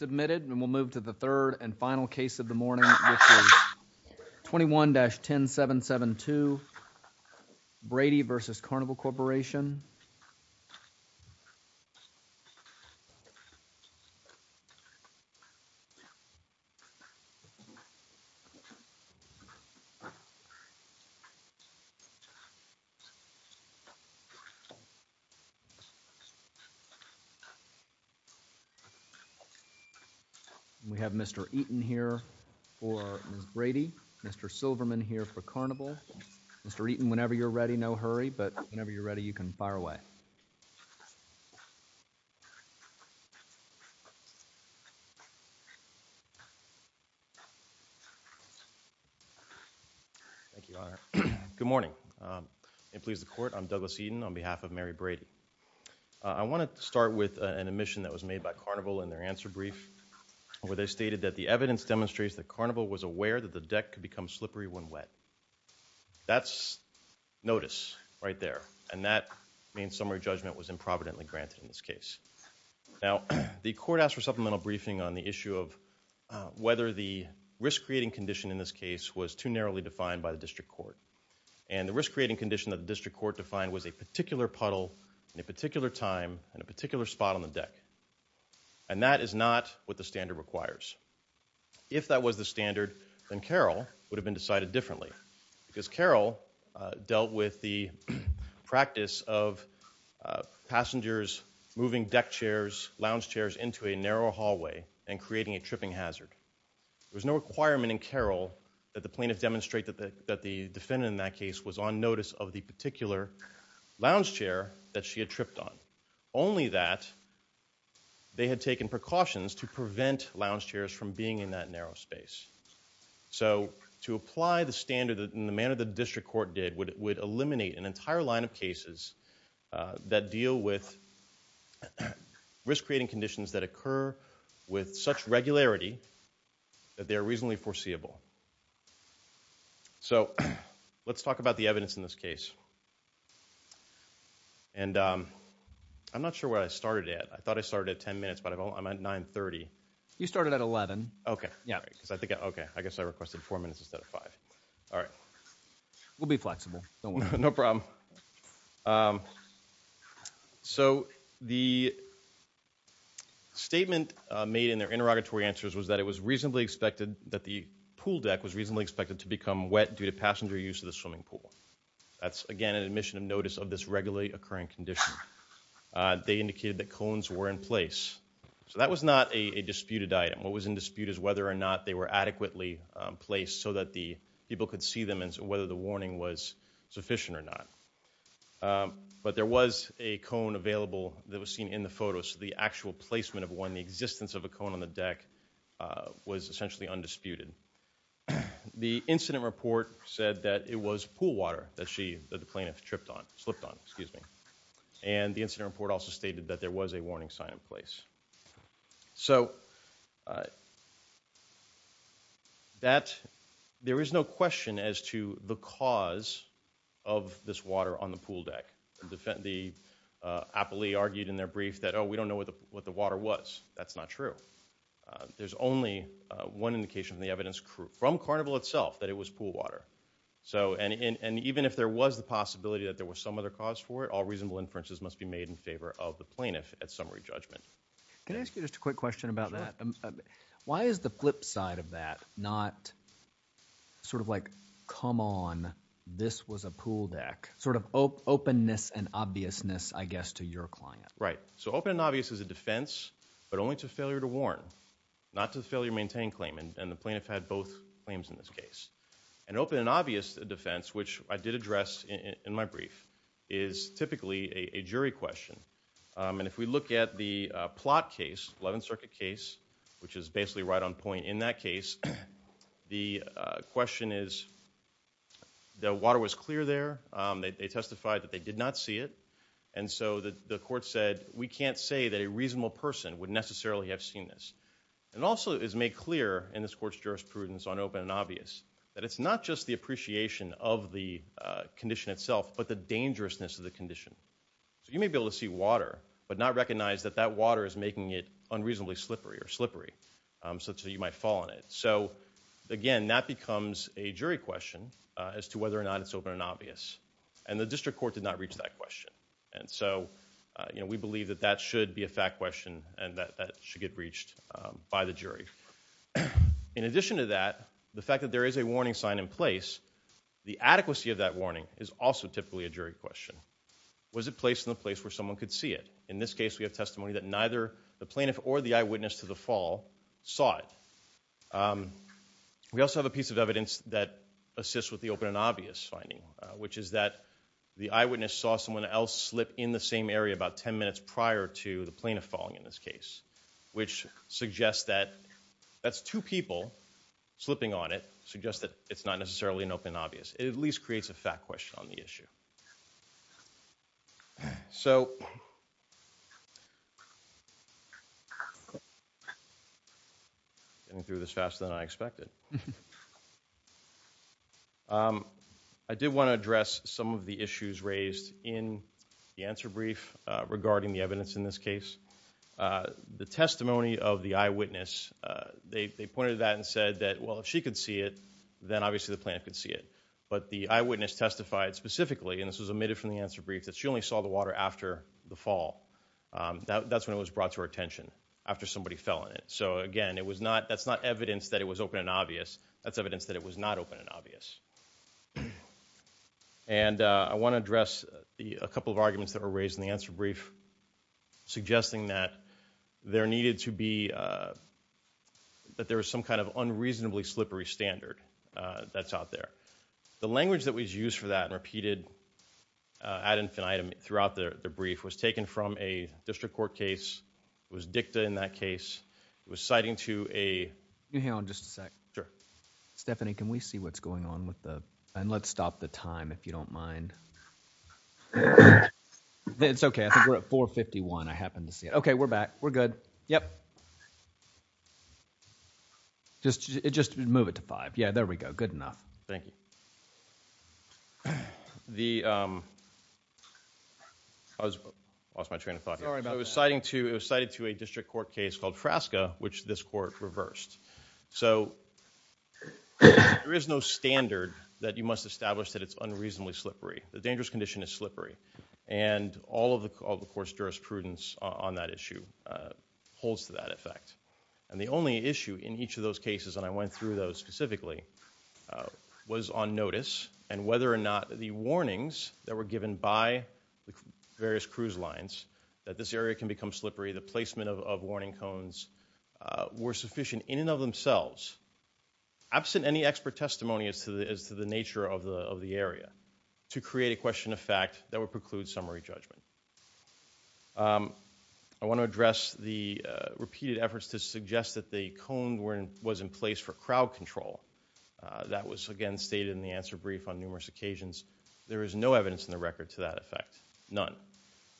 And we'll move to the third and final case of the morning, which is 21-10772 Brady v. Mrs. Carnival Corporation. We have Mr. Eaton here for Ms. Brady, Mr. Silverman here for Carnival, Mr. Eaton whenever you're ready, no hurry, but whenever you're ready, you can fire away. Good morning. It pleases the court. I'm Douglas Eaton on behalf of Mary Brady. I want to start with an admission that was made by Carnival in their answer brief where they stated that the evidence demonstrates that Carnival was aware that the deck could become slippery when wet. That's notice right there, and that means summary judgment was improvidently granted in this case. Now, the court asked for supplemental briefing on the issue of whether the risk-creating condition in this case was too narrowly defined by the district court. And the risk-creating condition that the district court defined was a particular puddle at a particular time and a particular spot on the deck. And that is not what the Carroll would have been decided differently. Because Carroll dealt with the practice of passengers moving deck chairs, lounge chairs into a narrow hallway and creating a tripping hazard. There was no requirement in Carroll that the plaintiff demonstrate that the defendant in that case was on notice of the particular lounge chair that she had tripped on. Only that they had taken precautions to prevent lounge chairs from being in that narrow space. So to apply the standard in the manner the district court did would eliminate an entire line of cases that deal with risk-creating conditions that occur with such regularity that they are reasonably foreseeable. So, let's talk about the evidence in this case. And I'm not sure where I started at. I thought I started at 10 minutes, but I'm at 9.30. You started at 11. Okay. Yeah, because I think, okay, I guess I requested four minutes instead of five. All right. We'll be flexible. No problem. So, the statement made in their interrogatory answers was that it was reasonably expected that the pool deck was reasonably expected to become wet due to passenger use of the swimming pool. That's, again, an admission of notice of this regularly occurring condition. They indicated that cones were in place. So, that was not a disputed item. What was in dispute is whether or not they were adequately placed so that the people could see them and whether the warning was sufficient or not. But there was a cone available that was seen in the photo. So, the actual placement of one, the existence of a cone on the deck, was essentially undisputed. The incident report said that it was pool water that she, that the plaintiff tripped on, slipped on, excuse me. And the incident report also stated that there was a warning sign in place. So, there is no question as to the cause of this water on the pool deck. The appellee argued in their brief that, oh, we don't know what the water was. That's not true. There's only one indication from the evidence from Carnival itself that it was pool water. So, and even if there was the possibility that there was some other cause for it, all reasonable inferences must be made in favor of the plaintiff at summary judgment. Can I ask you just a quick question about that? Why is the flip side of that not sort of like, come on, this was a pool deck? Sort of openness and obviousness, I guess, to your client. Right. So, open and obvious is a defense, but only to failure to warn, not to failure to maintain claim. And the plaintiff had both claims in this case. An open and obvious defense, which I did address in my brief, is typically a jury question. And if we look at the plot case, 11th Circuit case, which is basically right on point in that case, the question is, the water was clear there. They testified that they did not see it. And so the court said, we can't say that a reasonable person would necessarily have seen this. And also it is made clear in this court's jurisprudence on open and obvious, that it's not just the appreciation of the condition itself, but the dangerousness of the condition. So you may be able to see water, but not recognize that that water is making it unreasonably slippery or slippery, such that you might fall in it. So again, that becomes a jury question as to whether or not it's open and obvious, and how to reach that question. And so we believe that that should be a fact question and that should get reached by the jury. In addition to that, the fact that there is a warning sign in place, the adequacy of that warning is also typically a jury question. Was it placed in a place where someone could see it? In this case, we have testimony that neither the plaintiff or the eyewitness to the fall saw it. We also have a piece of evidence that assists with the open and obvious finding, which is that the eyewitness saw someone else slip in the same area about 10 minutes prior to the plaintiff falling in this case, which suggests that that's two people slipping on it, suggests that it's not necessarily an open and obvious. It at least creates a fact question on the issue. So I'm getting through this faster than I expected. I did want to address some of the issues raised in the answer brief regarding the evidence in this case. The testimony of the eyewitness, they pointed to that and said that, well, if she could see it, then obviously the plaintiff could see it. But the eyewitness testified specifically, and this was omitted from the answer brief, that she only saw the water after the fall. That's when it was brought to her attention, after somebody fell in it. So again, it was not, that's not evidence that it was open and obvious. That's evidence that it was not open and obvious. And I want to address a couple of arguments that were raised in the answer brief suggesting that there needed to be, that there was some kind of unreasonably slippery standard that's out there. The language that was used for that and repeated ad infinitum throughout the brief was taken from a district court case. It was dicta in that case. It was citing to a... Can you hang on just a sec? Sure. Stephanie, can we see what's going on with the... and let's stop the time if you don't mind. It's okay. I think we're at 4.51. I happen to see it. Okay, we're back. We're good. Yep. Just move it to 5. Yeah, there we go. Good enough. Thank you. The... I lost my train of thought here. Sorry about that. It was cited to a district court case called Frasca, which this court reversed. So there is no standard that you must establish that it's unreasonably slippery. The dangerous condition is slippery. And all of the court's jurisprudence on that issue holds to that effect. And the only issue in each of those cases, and I went through those specifically, was on notice and whether or not the warnings that were given by the various cruise lines that this area can become slippery, the placement of warning cones, were sufficient in and of themselves, absent any expert testimony as to the nature of the area, to create a question of fact that would preclude summary judgment. I want to address the repeated efforts to suggest that the cones was in place for crowd control. That was again stated in the answer brief on numerous occasions. There is no evidence in the record to that effect. None.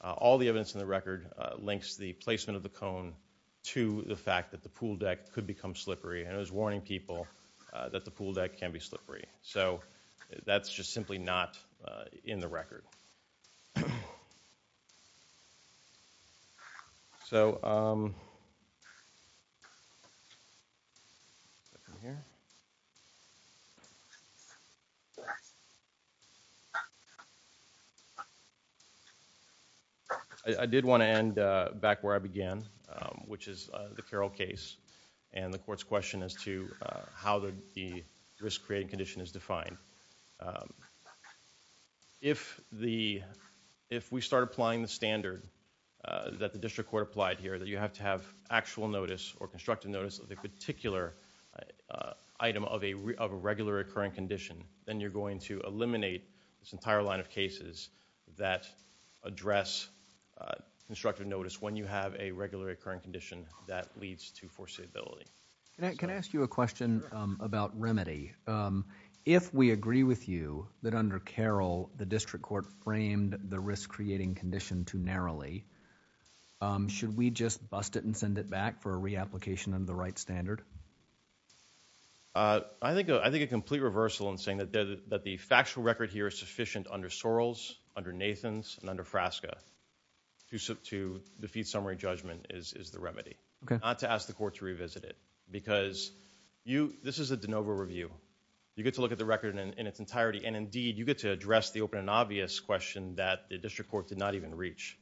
All the evidence in the record links the placement of the cone to the fact that the pool deck could become slippery. And it was warning people that the pool deck can be slippery. So that's just simply not in the record. So, I'm going to go ahead and move on to the next item. I'm going to go to the next item. I did want to end back where I began, which is the Carroll case and the court's question as to how the risk-creating condition is defined. If we start applying the standard that the district court applied here, that you have to have actual notice or constructive notice of a particular item of a regular occurring condition, then you're going to eliminate this entire line of cases that address constructive notice when you have a regular occurring condition that leads to foreseeability. Can I ask you a question about remedy? If we agree with you that under Carroll, the district court framed the risk-creating condition too narrowly, should we just bust it and send it back for a re-application under the right standard? I think a complete reversal in saying that the factual record here is sufficient under Sorrells, under Nathans, and under Frasca to defeat summary judgment is the remedy. Not to ask the court to revisit it, because this is a de novo review. You get to look at the record in its entirety, and indeed, you get to address the open and obvious question that the district court did not even reach.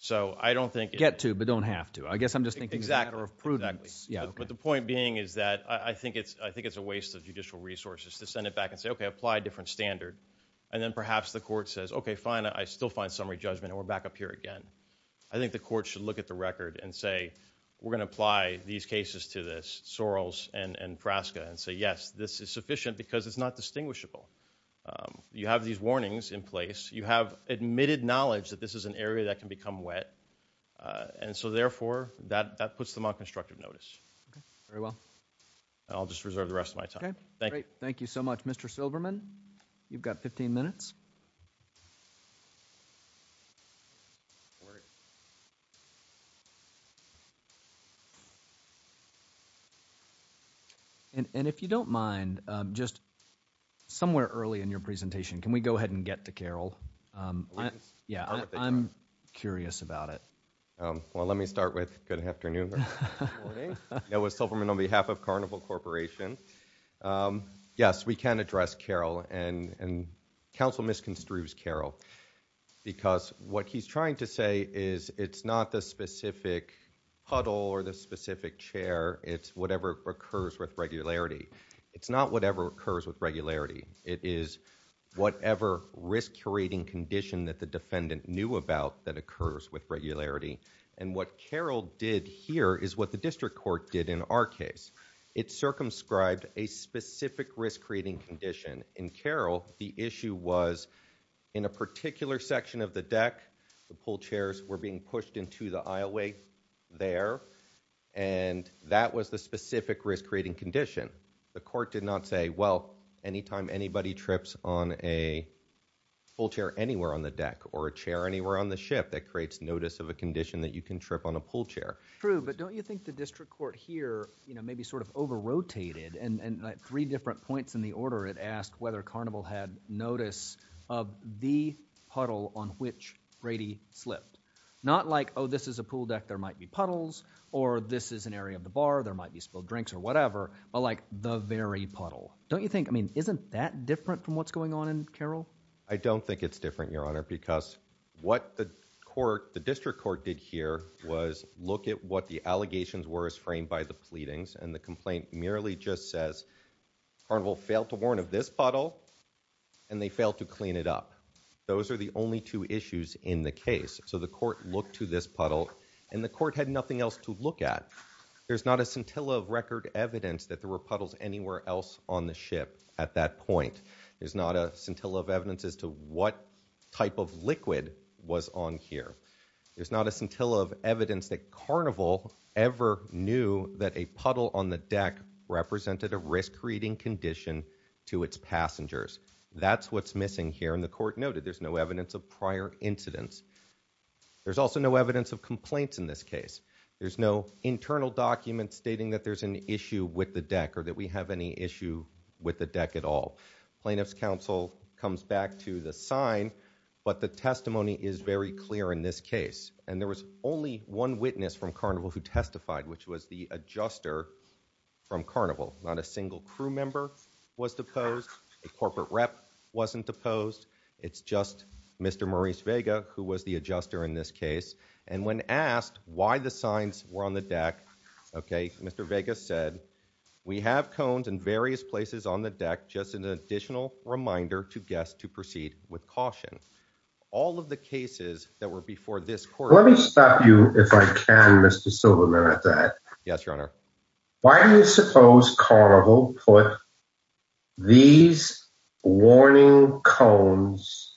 So I don't think... You don't have to, but don't have to. I guess I'm just thinking it's a matter of prudence. Exactly. But the point being is that I think it's a waste of judicial resources to send it back and say, okay, apply a different standard. And then perhaps the court says, okay, fine, I still find summary judgment, and we're back up here again. I think the court should look at the record and say, we're going to apply these cases to this, Sorrells and Frasca, and say, yes, this is sufficient because it's not distinguishable. You have these warnings in place. You have admitted knowledge that this is an area that can become wet. And so therefore, that puts them on constructive notice. Okay. Very well. And I'll just reserve the rest of my time. Okay. Great. Thank you so much. Mr. Silverman, you've got 15 minutes. And if you don't mind, just somewhere early in your presentation, can we go ahead and get to Carol? Yeah, I'm curious about it. Well, let me start with good afternoon. Noah Silverman on behalf of Carnival Corporation. Yes, we can address Carol, and counsel misconstrues Carol, because what he's trying to say is it's not the specific huddle or the specific chair. It's whatever occurs with regularity. It's not whatever occurs with regularity. It is whatever risk curating condition that the defendant knew about that occurs with regularity. And what Carol did here is what the district court did in our case. It circumscribed a specific risk-creating condition. In Carol, the issue was in a particular section of the deck, the pool chairs were being pushed into the aisleway there, and that was the specific risk-creating condition. The court did not say, well, anytime anybody trips on a pool chair anywhere on the deck or a chair anywhere on the ship, that creates notice of a condition that you can trip on a pool chair. True, but don't you think the district court here, you know, maybe sort of over-rotated, and at three different points in the order it asked whether Carnival had notice of the huddle on which Brady slipped. Not like, oh, this is a pool deck, there might be puddles, or this is an area of the bar, there might be spilled drinks or whatever, but like the very puddle. Don't you think, I mean, isn't that different from what's going on in Carol? I don't think it's different, Your Honor, because what the court, the district court did here was look at what the allegations were as framed by the pleadings, and the complaint merely just says Carnival failed to warn of this puddle, and they failed to clean it up. Those are the only two issues in the case. So the court looked to this puddle, and the court had nothing else to look at. There's not a scintilla of record evidence that there were puddles anywhere else on the ship at that point. There's not a scintilla of evidence as to what type of liquid was on here. There's not a scintilla of evidence that Carnival ever knew that a puddle on the deck represented a risk-creating condition to its passengers. That's what's missing here, and the court noted there's no evidence of prior incidents. There's also no evidence of complaints in this case. There's no internal documents stating that there's an issue with the deck or that we have any issue with the deck, and that comes back to the sign, but the testimony is very clear in this case, and there was only one witness from Carnival who testified, which was the adjuster from Carnival. Not a single crew member was deposed. A corporate rep wasn't deposed. It's just Mr. Maurice Vega, who was the adjuster in this case, and when asked why the signs were on the deck, okay, Mr. Vega said, we have cones in various places on the deck, just an additional reminder to guests to proceed with caution. All of the cases that were before this court... Let me stop you, if I can, Mr. Silverman, at that. Yes, your honor. Why do you suppose Carnival put these warning cones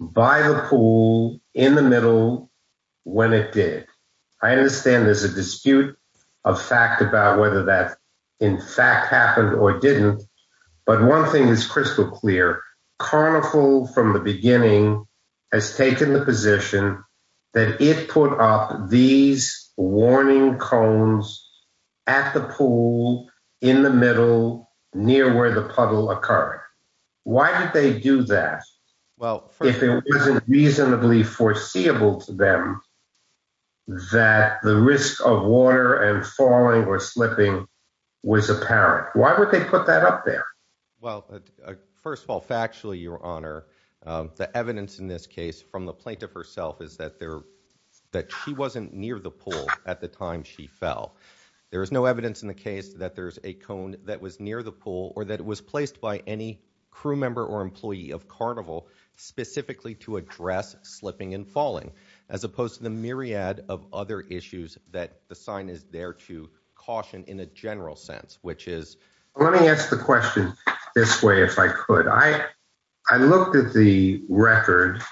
by the pool in the middle when it did? I understand there's a dispute of fact about whether that, in fact, happened or didn't, but one thing is crystal clear. Carnival, from the beginning, has taken the position that it put up these warning cones at the pool, in the middle, near where the puddle occurred. Why did they do that? If it wasn't reasonably foreseeable to them that the risk of water and falling or slipping was apparent, why would they put that up there? Well, first of all, factually, your honor, the evidence in this case from the plaintiff herself is that she wasn't near the pool at the time she fell. There is no evidence in the case that there's a cone that specifically to address slipping and falling, as opposed to the myriad of other issues that the sign is there to caution in a general sense, which is... Let me ask the question this way, if I could. I looked at the record.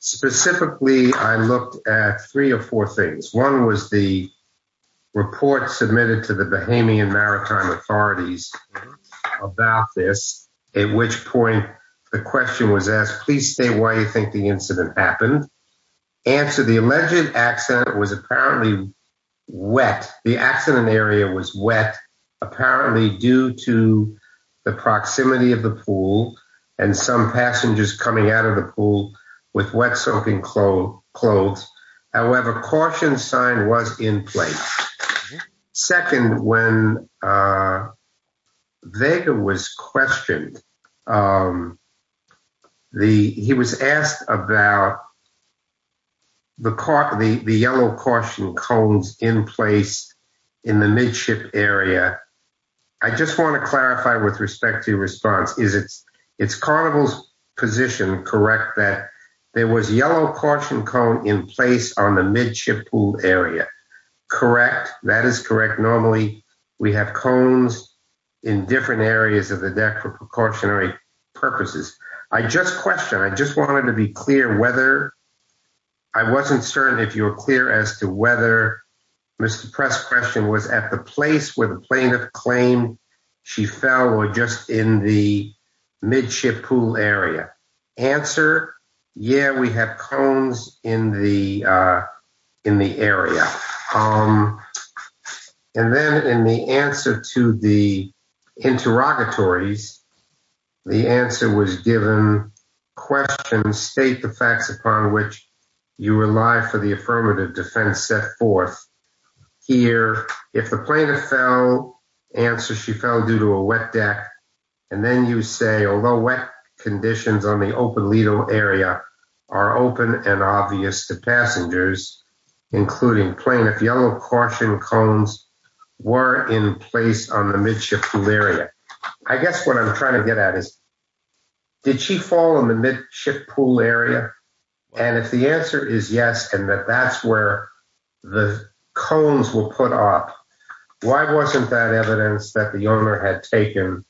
Specifically, I looked at three or four things. One was the question was asked, please state why you think the incident happened. Answer, the alleged accident was apparently wet. The accident area was wet, apparently due to the proximity of the pool and some passengers coming out of the pool with wet soaking clothes. However, caution sign was in place. Second, when Vega was questioned, he was asked about the yellow caution cones in place in the midship area. I just want to clarify with respect to response, it's carnival's position, correct, that there was a yellow caution cone in place on the midship pool area. Correct. That is correct. Normally, we have cones in different areas of the deck for precautionary purposes. I just questioned. I just wanted to be clear whether... I wasn't certain if you were clear as to whether Mr. Press' question was at the place where the plaintiff claimed she fell or just in the midship pool area. Answer, yeah, we have cones in the area. And then in the answer to the interrogatories, the answer was given, question, state the facts upon which you rely for the affirmative defense set forth. Here, if the plaintiff fell, answer, she fell due to a wet deck. And then you say, although wet conditions on the open legal area are open and obvious to passengers, including plaintiff, yellow caution cones were in place on the midship pool area. I guess what I'm trying to get at is, did she fall in the midship pool area? And if the answer is yes, and that that's where the cones were put up, why wasn't that evidence that the owner had taken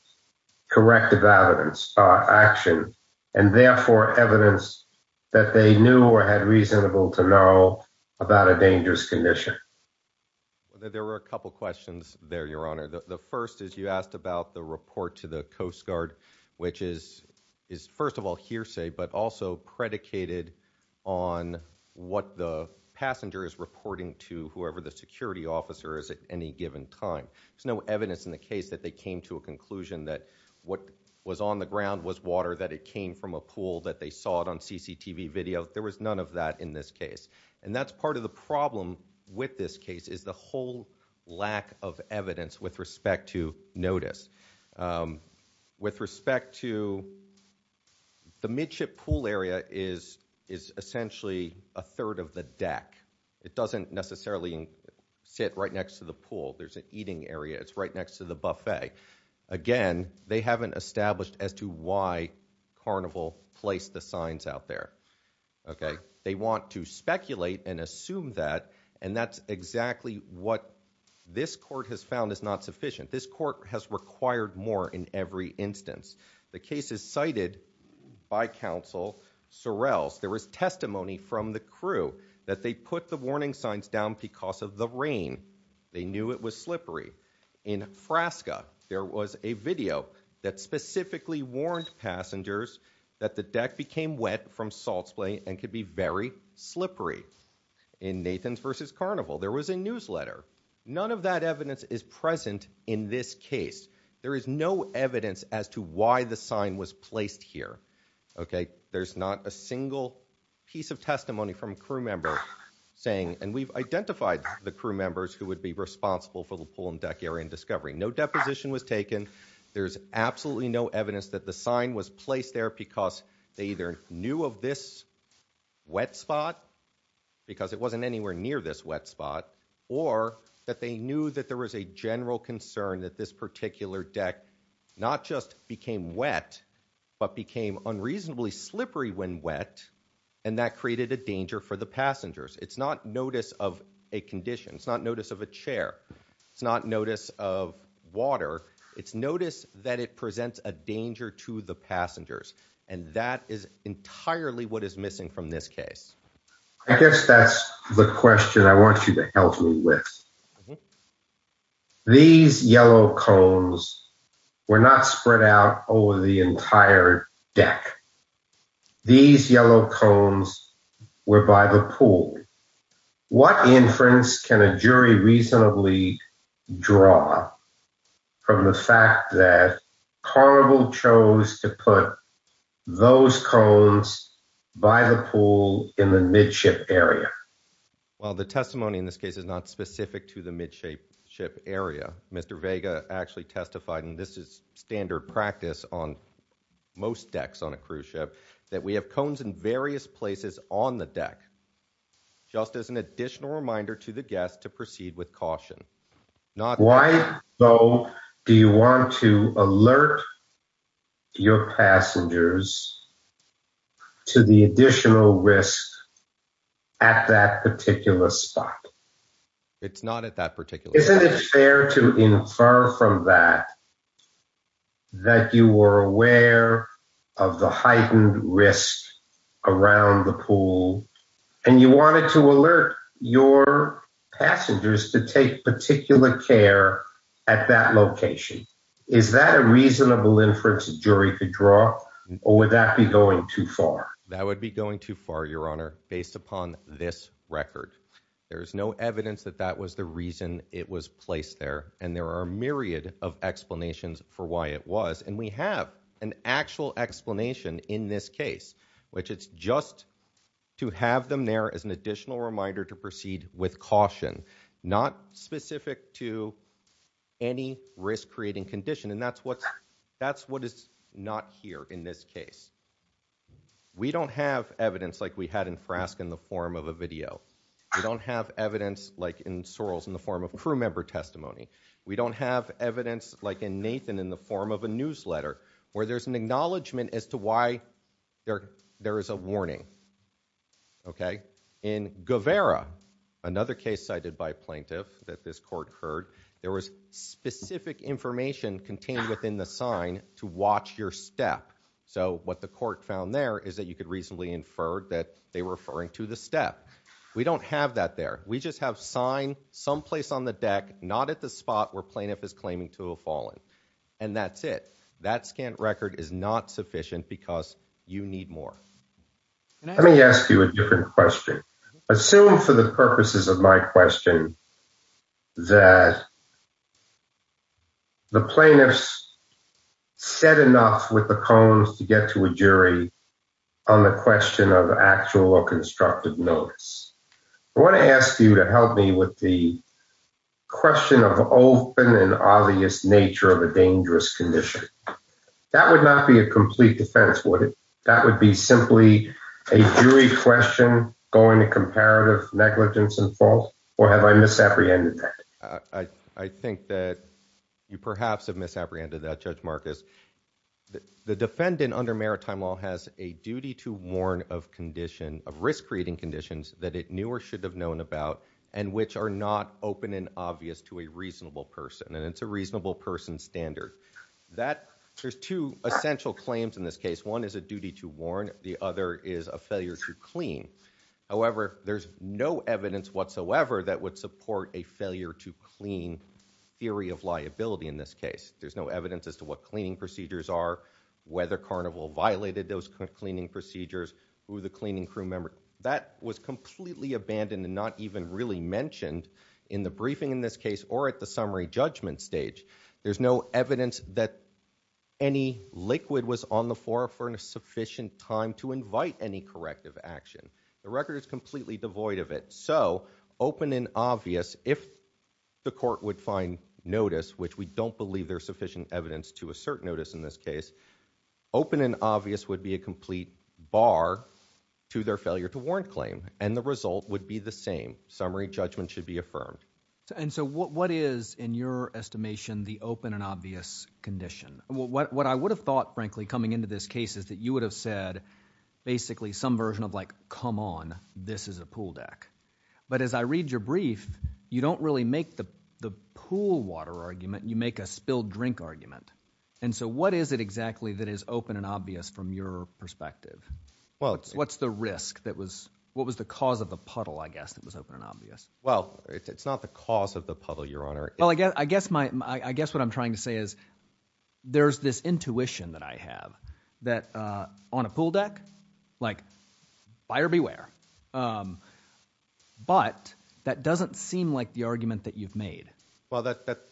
corrective action and therefore evidence that they knew or had reasonable to know about a dangerous condition? There were a couple of questions there, Your Honor. The first is you asked about the report to the Coast Guard, which is first of all hearsay, but also predicated on what the passenger is reporting to whoever the security officer is at any given time. There's no evidence in the case that they came to a conclusion that what was on the ground was water, that it came from a pool, that they saw it on CCTV video. There was none of that in this case. And that's part of the problem with this case is the whole lack of evidence with respect to notice. With respect to the midship pool area is essentially a third of the deck. It doesn't necessarily sit right next to the pool. There's an eating area. It's right next to the buffet. Again, they haven't established as to why Carnival placed the signs out there, okay? They want to speculate and assume that, and that's exactly what this court has found is not sufficient. This court has required more in every instance. The case is cited by counsel Sorrell's. There was testimony from the crew that they put the warning signs down because of the rain. They knew it was slippery. In Frasca, there was a video that specifically warned passengers that the deck became wet from salt splay and could be very slippery. In Nathan's versus Carnival, there was a newsletter. None of that evidence is present in this case. There is no evidence as to why the sign was placed here, okay? There's not a single piece of testimony from a crew member saying, and we've identified the crew members who would be responsible for the pool and deck area in discovery. No deposition was taken. There's absolutely no evidence that the sign was placed there because they either knew of this wet spot, because it wasn't anywhere near this wet spot, or that they knew that there was a general concern that this particular deck not just became wet, but became unreasonably slippery when wet, and that created a danger for the passengers. It's not notice of a condition. It's not notice of a chair. It's not notice of water. It's notice that it presents a danger to the passengers, and that is entirely what is missing from this case. I guess that's the question I want you to help me with. These yellow cones were not spread out over the entire deck. These yellow cones were by the pool. What inference can a jury reasonably draw from the fact that Carnival chose to put those cones by the pool in the midship area? Well, the testimony in this case is not specific to the midship area. Mr. Vega actually testified, and this is standard practice on most decks on a cruise ship, that we have cones in various places on the deck. Just as an additional reminder to the guests to proceed with caution. Why, though, do you want to alert your passengers to the additional risk at that particular spot? It's not at that particular spot. Isn't it fair to infer from that that you were aware of the heightened risk around the pool, and you wanted to alert your passengers to take particular care at that location? Is that a reasonable inference a jury could draw, or would that be going too far? That would be going too far, Your Honor, based upon this record. There's no evidence that that was the reason it was placed there, and there are a myriad of explanations for why it was, and we have an actual explanation in this case, which it's just to have them there as an additional reminder to proceed with caution, not specific to any risk-creating condition, and that's what is not here in this case. We don't have evidence like we had in Frask in the form of a video. We don't have evidence like in Sorrell's in the form of like in Nathan in the form of a newsletter, where there's an acknowledgement as to why there is a warning, okay? In Guevara, another case cited by a plaintiff that this court heard, there was specific information contained within the sign to watch your step, so what the court found there is that you could reasonably infer that they were referring to the step. We don't have that there. We just have sign someplace on the deck, not at the spot where plaintiff is a fallen, and that's it. That scant record is not sufficient because you need more. Let me ask you a different question. Assume for the purposes of my question that the plaintiffs said enough with the cones to get to a jury on the question of actual or nature of a dangerous condition. That would not be a complete defense, would it? That would be simply a jury question going to comparative negligence and fault, or have I misapprehended that? I think that you perhaps have misapprehended that, Judge Marcus. The defendant under maritime law has a duty to warn of condition of risk-creating conditions that it knew or should have known about and which are not open and obvious to a reasonable person, and it's a reasonable person standard. There's two essential claims in this case. One is a duty to warn. The other is a failure to clean. However, there's no evidence whatsoever that would support a failure to clean theory of liability in this case. There's no evidence as to what cleaning procedures are, whether Carnival violated those cleaning procedures, who the cleaning crew member that was completely abandoned and not even really mentioned in the briefing in this case or at the judgment stage. There's no evidence that any liquid was on the floor for a sufficient time to invite any corrective action. The record is completely devoid of it. So open and obvious, if the court would find notice, which we don't believe there's sufficient evidence to assert notice in this case, open and obvious would be a complete bar to their failure to warn claim, and the result would be the open and obvious condition. What I would have thought, frankly, coming into this case is that you would have said basically some version of, like, come on, this is a pool deck. But as I read your brief, you don't really make the pool water argument. You make a spilled drink argument. And so what is it exactly that is open and obvious from your perspective? What's the risk? What was the cause of the puddle, I guess, that was open and obvious? Well, it's not the cause of the puddle, Your Honor. Well, I guess what I'm trying to say is there's this intuition that I have that on a pool deck, like, buyer beware. But that doesn't seem like the argument that you've made. Well,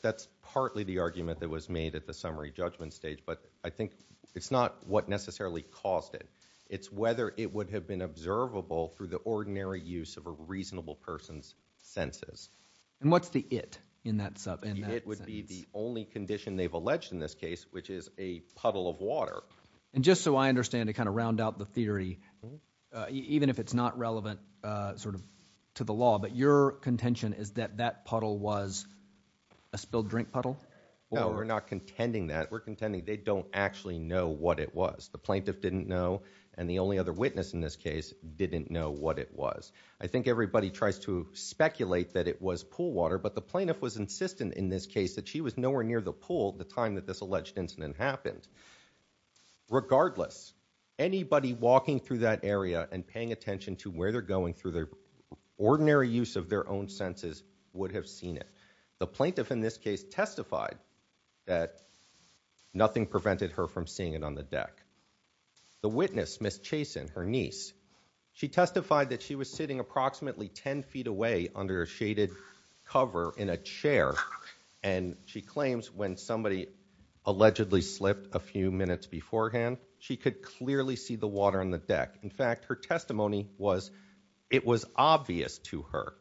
that's partly the argument that was made at the summary judgment stage. But I think it's not what necessarily caused it. It's whether it would have been observable through the ordinary use of reasonable person's senses. And what's the it in that sense? It would be the only condition they've alleged in this case, which is a puddle of water. And just so I understand to kind of round out the theory, even if it's not relevant sort of to the law, but your contention is that that puddle was a spilled drink puddle? No, we're not contending that. We're contending they don't actually know what it was. The plaintiff didn't know. And the only other witness in this case didn't know what it was. I think everybody tries to speculate that it was pool water, but the plaintiff was insistent in this case that she was nowhere near the pool at the time that this alleged incident happened. Regardless, anybody walking through that area and paying attention to where they're going through their ordinary use of their own senses would have seen it. The plaintiff in this case testified that nothing prevented her from seeing it on the deck. The witness, Ms. Chason, her niece, she testified that she was sitting approximately 10 feet away under a shaded cover in a chair. And she claims when somebody allegedly slipped a few minutes beforehand, she could clearly see the water on the deck. In fact, her testimony was it was obvious to her.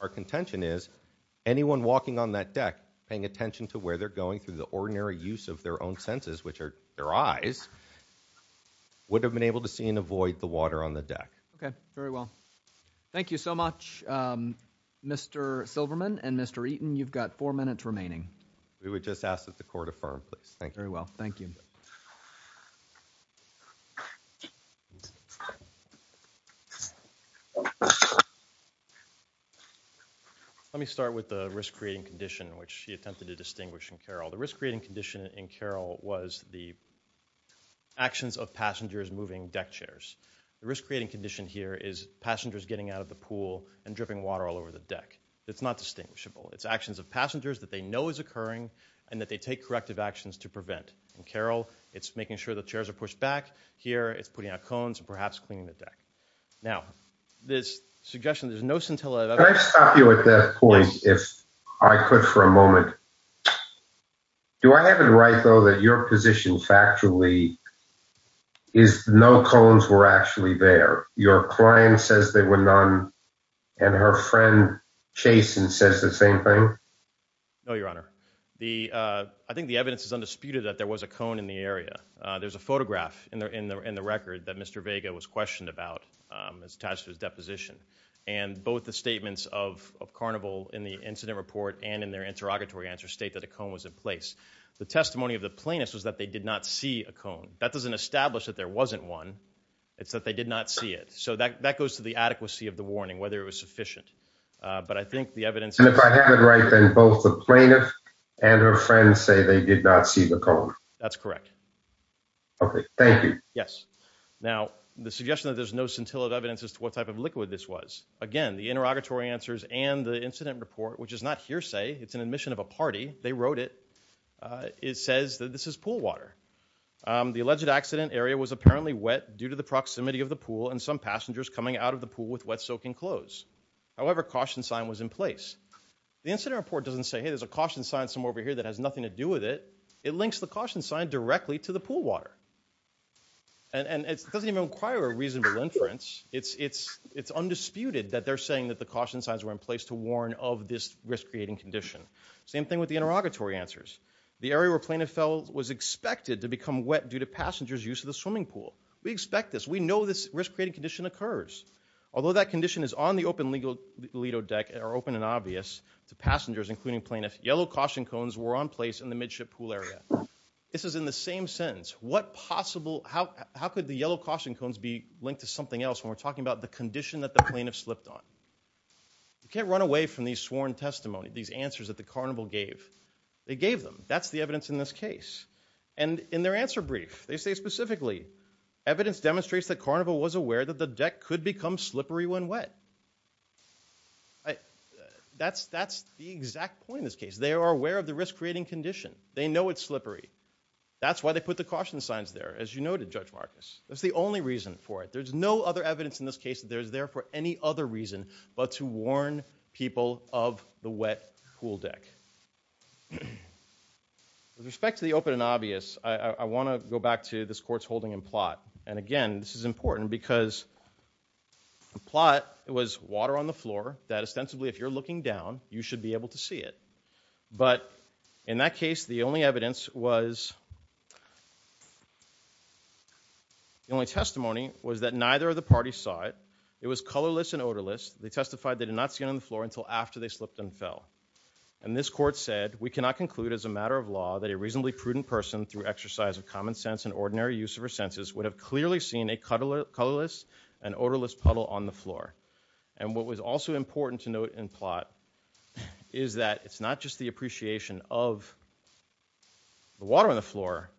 Our contention is anyone walking on that deck, paying attention to where they're going through the ordinary use of their own senses, which are their eyes, would have been able to see and avoid the water on the deck. Okay, very well. Thank you so much, Mr. Silverman and Mr. Eaton. You've got four minutes remaining. We would just ask that the court affirm, please. Thank you very well. Thank you. Let me start with the risk-creating condition, which she attempted to distinguish in Carroll. The risk-creating condition in Carroll was the actions of passengers moving deck chairs. The risk-creating condition here is passengers getting out of the pool and dripping water all over the deck. It's not distinguishable. It's actions of passengers that they know is occurring and that they take corrective actions to prevent. In Carroll, it's making sure the chairs are pushed back. Here, it's putting out cones and perhaps cleaning the deck. Now, this suggestion, there's no scintilla. Can I stop you at that point if I could for a moment? Do I have it right, though, that your position factually is no cones were actually there? Your client says there were none and her friend Chasen says the same thing? No, Your Honor. I think the evidence is undisputed that there was a cone in the area. There's a photograph in the record that Mr. Vega was questioned about as attached to his deposition. And both the statements of Carnival in the incident report and in their interrogatory answer state that a cone was in place. The testimony of the plaintiff was that they did not see a cone. That doesn't establish that there wasn't one. It's that they did not see it. So that goes to the adequacy of the warning, whether it was sufficient. But I think the evidence... And if I have it right, then both the plaintiff and her friend say they did not see the cone. That's correct. Okay, thank you. Yes. Now, the suggestion that there's no scintillant evidence as to what type of liquid this was. Again, the interrogatory answers and the incident report, which is not hearsay, it's an admission of a party. They wrote it. It says that this is pool water. The alleged accident area was apparently wet due to the proximity of the pool and some passengers coming out of the pool with wet, soaking clothes. However, caution sign was in place. The incident report doesn't say, hey, there's a caution sign somewhere over here that has nothing to do with it. It links the caution sign directly to the pool water. And it doesn't even require a reasonable inference. It's undisputed that they're saying that the caution signs were in place to warn of this risk-creating condition. Same thing with the interrogatory answers. The area where plaintiff fell was expected to become wet due to passengers use of the swimming pool. We expect this. We know this risk-creating condition occurs. Although that condition is on the open Lido deck, are open and obvious to passengers, yellow caution cones were on place in the midship pool area. This is in the same sense. How could the yellow caution cones be linked to something else when we're talking about the condition that the plaintiff slipped on? You can't run away from these sworn testimony, these answers that the carnival gave. They gave them. That's the evidence in this case. And in their answer brief, they say specifically, evidence demonstrates that carnival was aware that the deck could become slippery when wet. That's the exact point in this case. They are aware of the risk-creating condition. They know it's slippery. That's why they put the caution signs there, as you noted, Judge Marcus. That's the only reason for it. There's no other evidence in this case that there's there for any other reason but to warn people of the wet pool deck. With respect to the open and obvious, I want to go back to this court's holding and plot. And again, this is important because the plot was water on the floor that ostensibly, if you're looking down, you should be able to see it. But in that case, the only evidence was, the only testimony was that neither of the parties saw it. It was colorless and odorless. They testified they did not see it on the floor until after they slipped and fell. And this court said, we cannot conclude as a matter of law that a reasonably prudent person through exercise of common sense and ordinary use of her senses would have clearly seen a colorless and odorless puddle on the floor. And what was also important to note in plot is that it's not just the appreciation of the water on the floor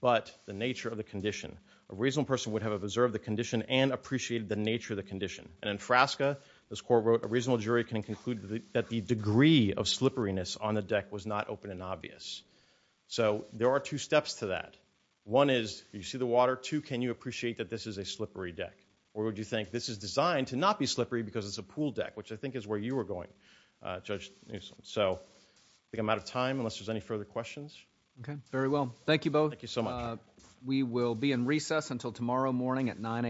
but the nature of the condition. A reasonable person would have observed the condition and appreciated the nature of the condition. And in Frasca, this court wrote, a reasonable jury can conclude that the degree of slipperiness on the deck was not open and obvious. So there are two steps to that. One is, you see the water. Two, can you appreciate that this is a slippery deck? Or would you think this is designed to not be slippery because it's a pool deck, which I think is where you were going, Judge Newsom. So I think I'm out of time unless there's any further questions. Okay, very well. Thank you both. Thank you so much. We will be in recess until tomorrow morning at 9 a.m.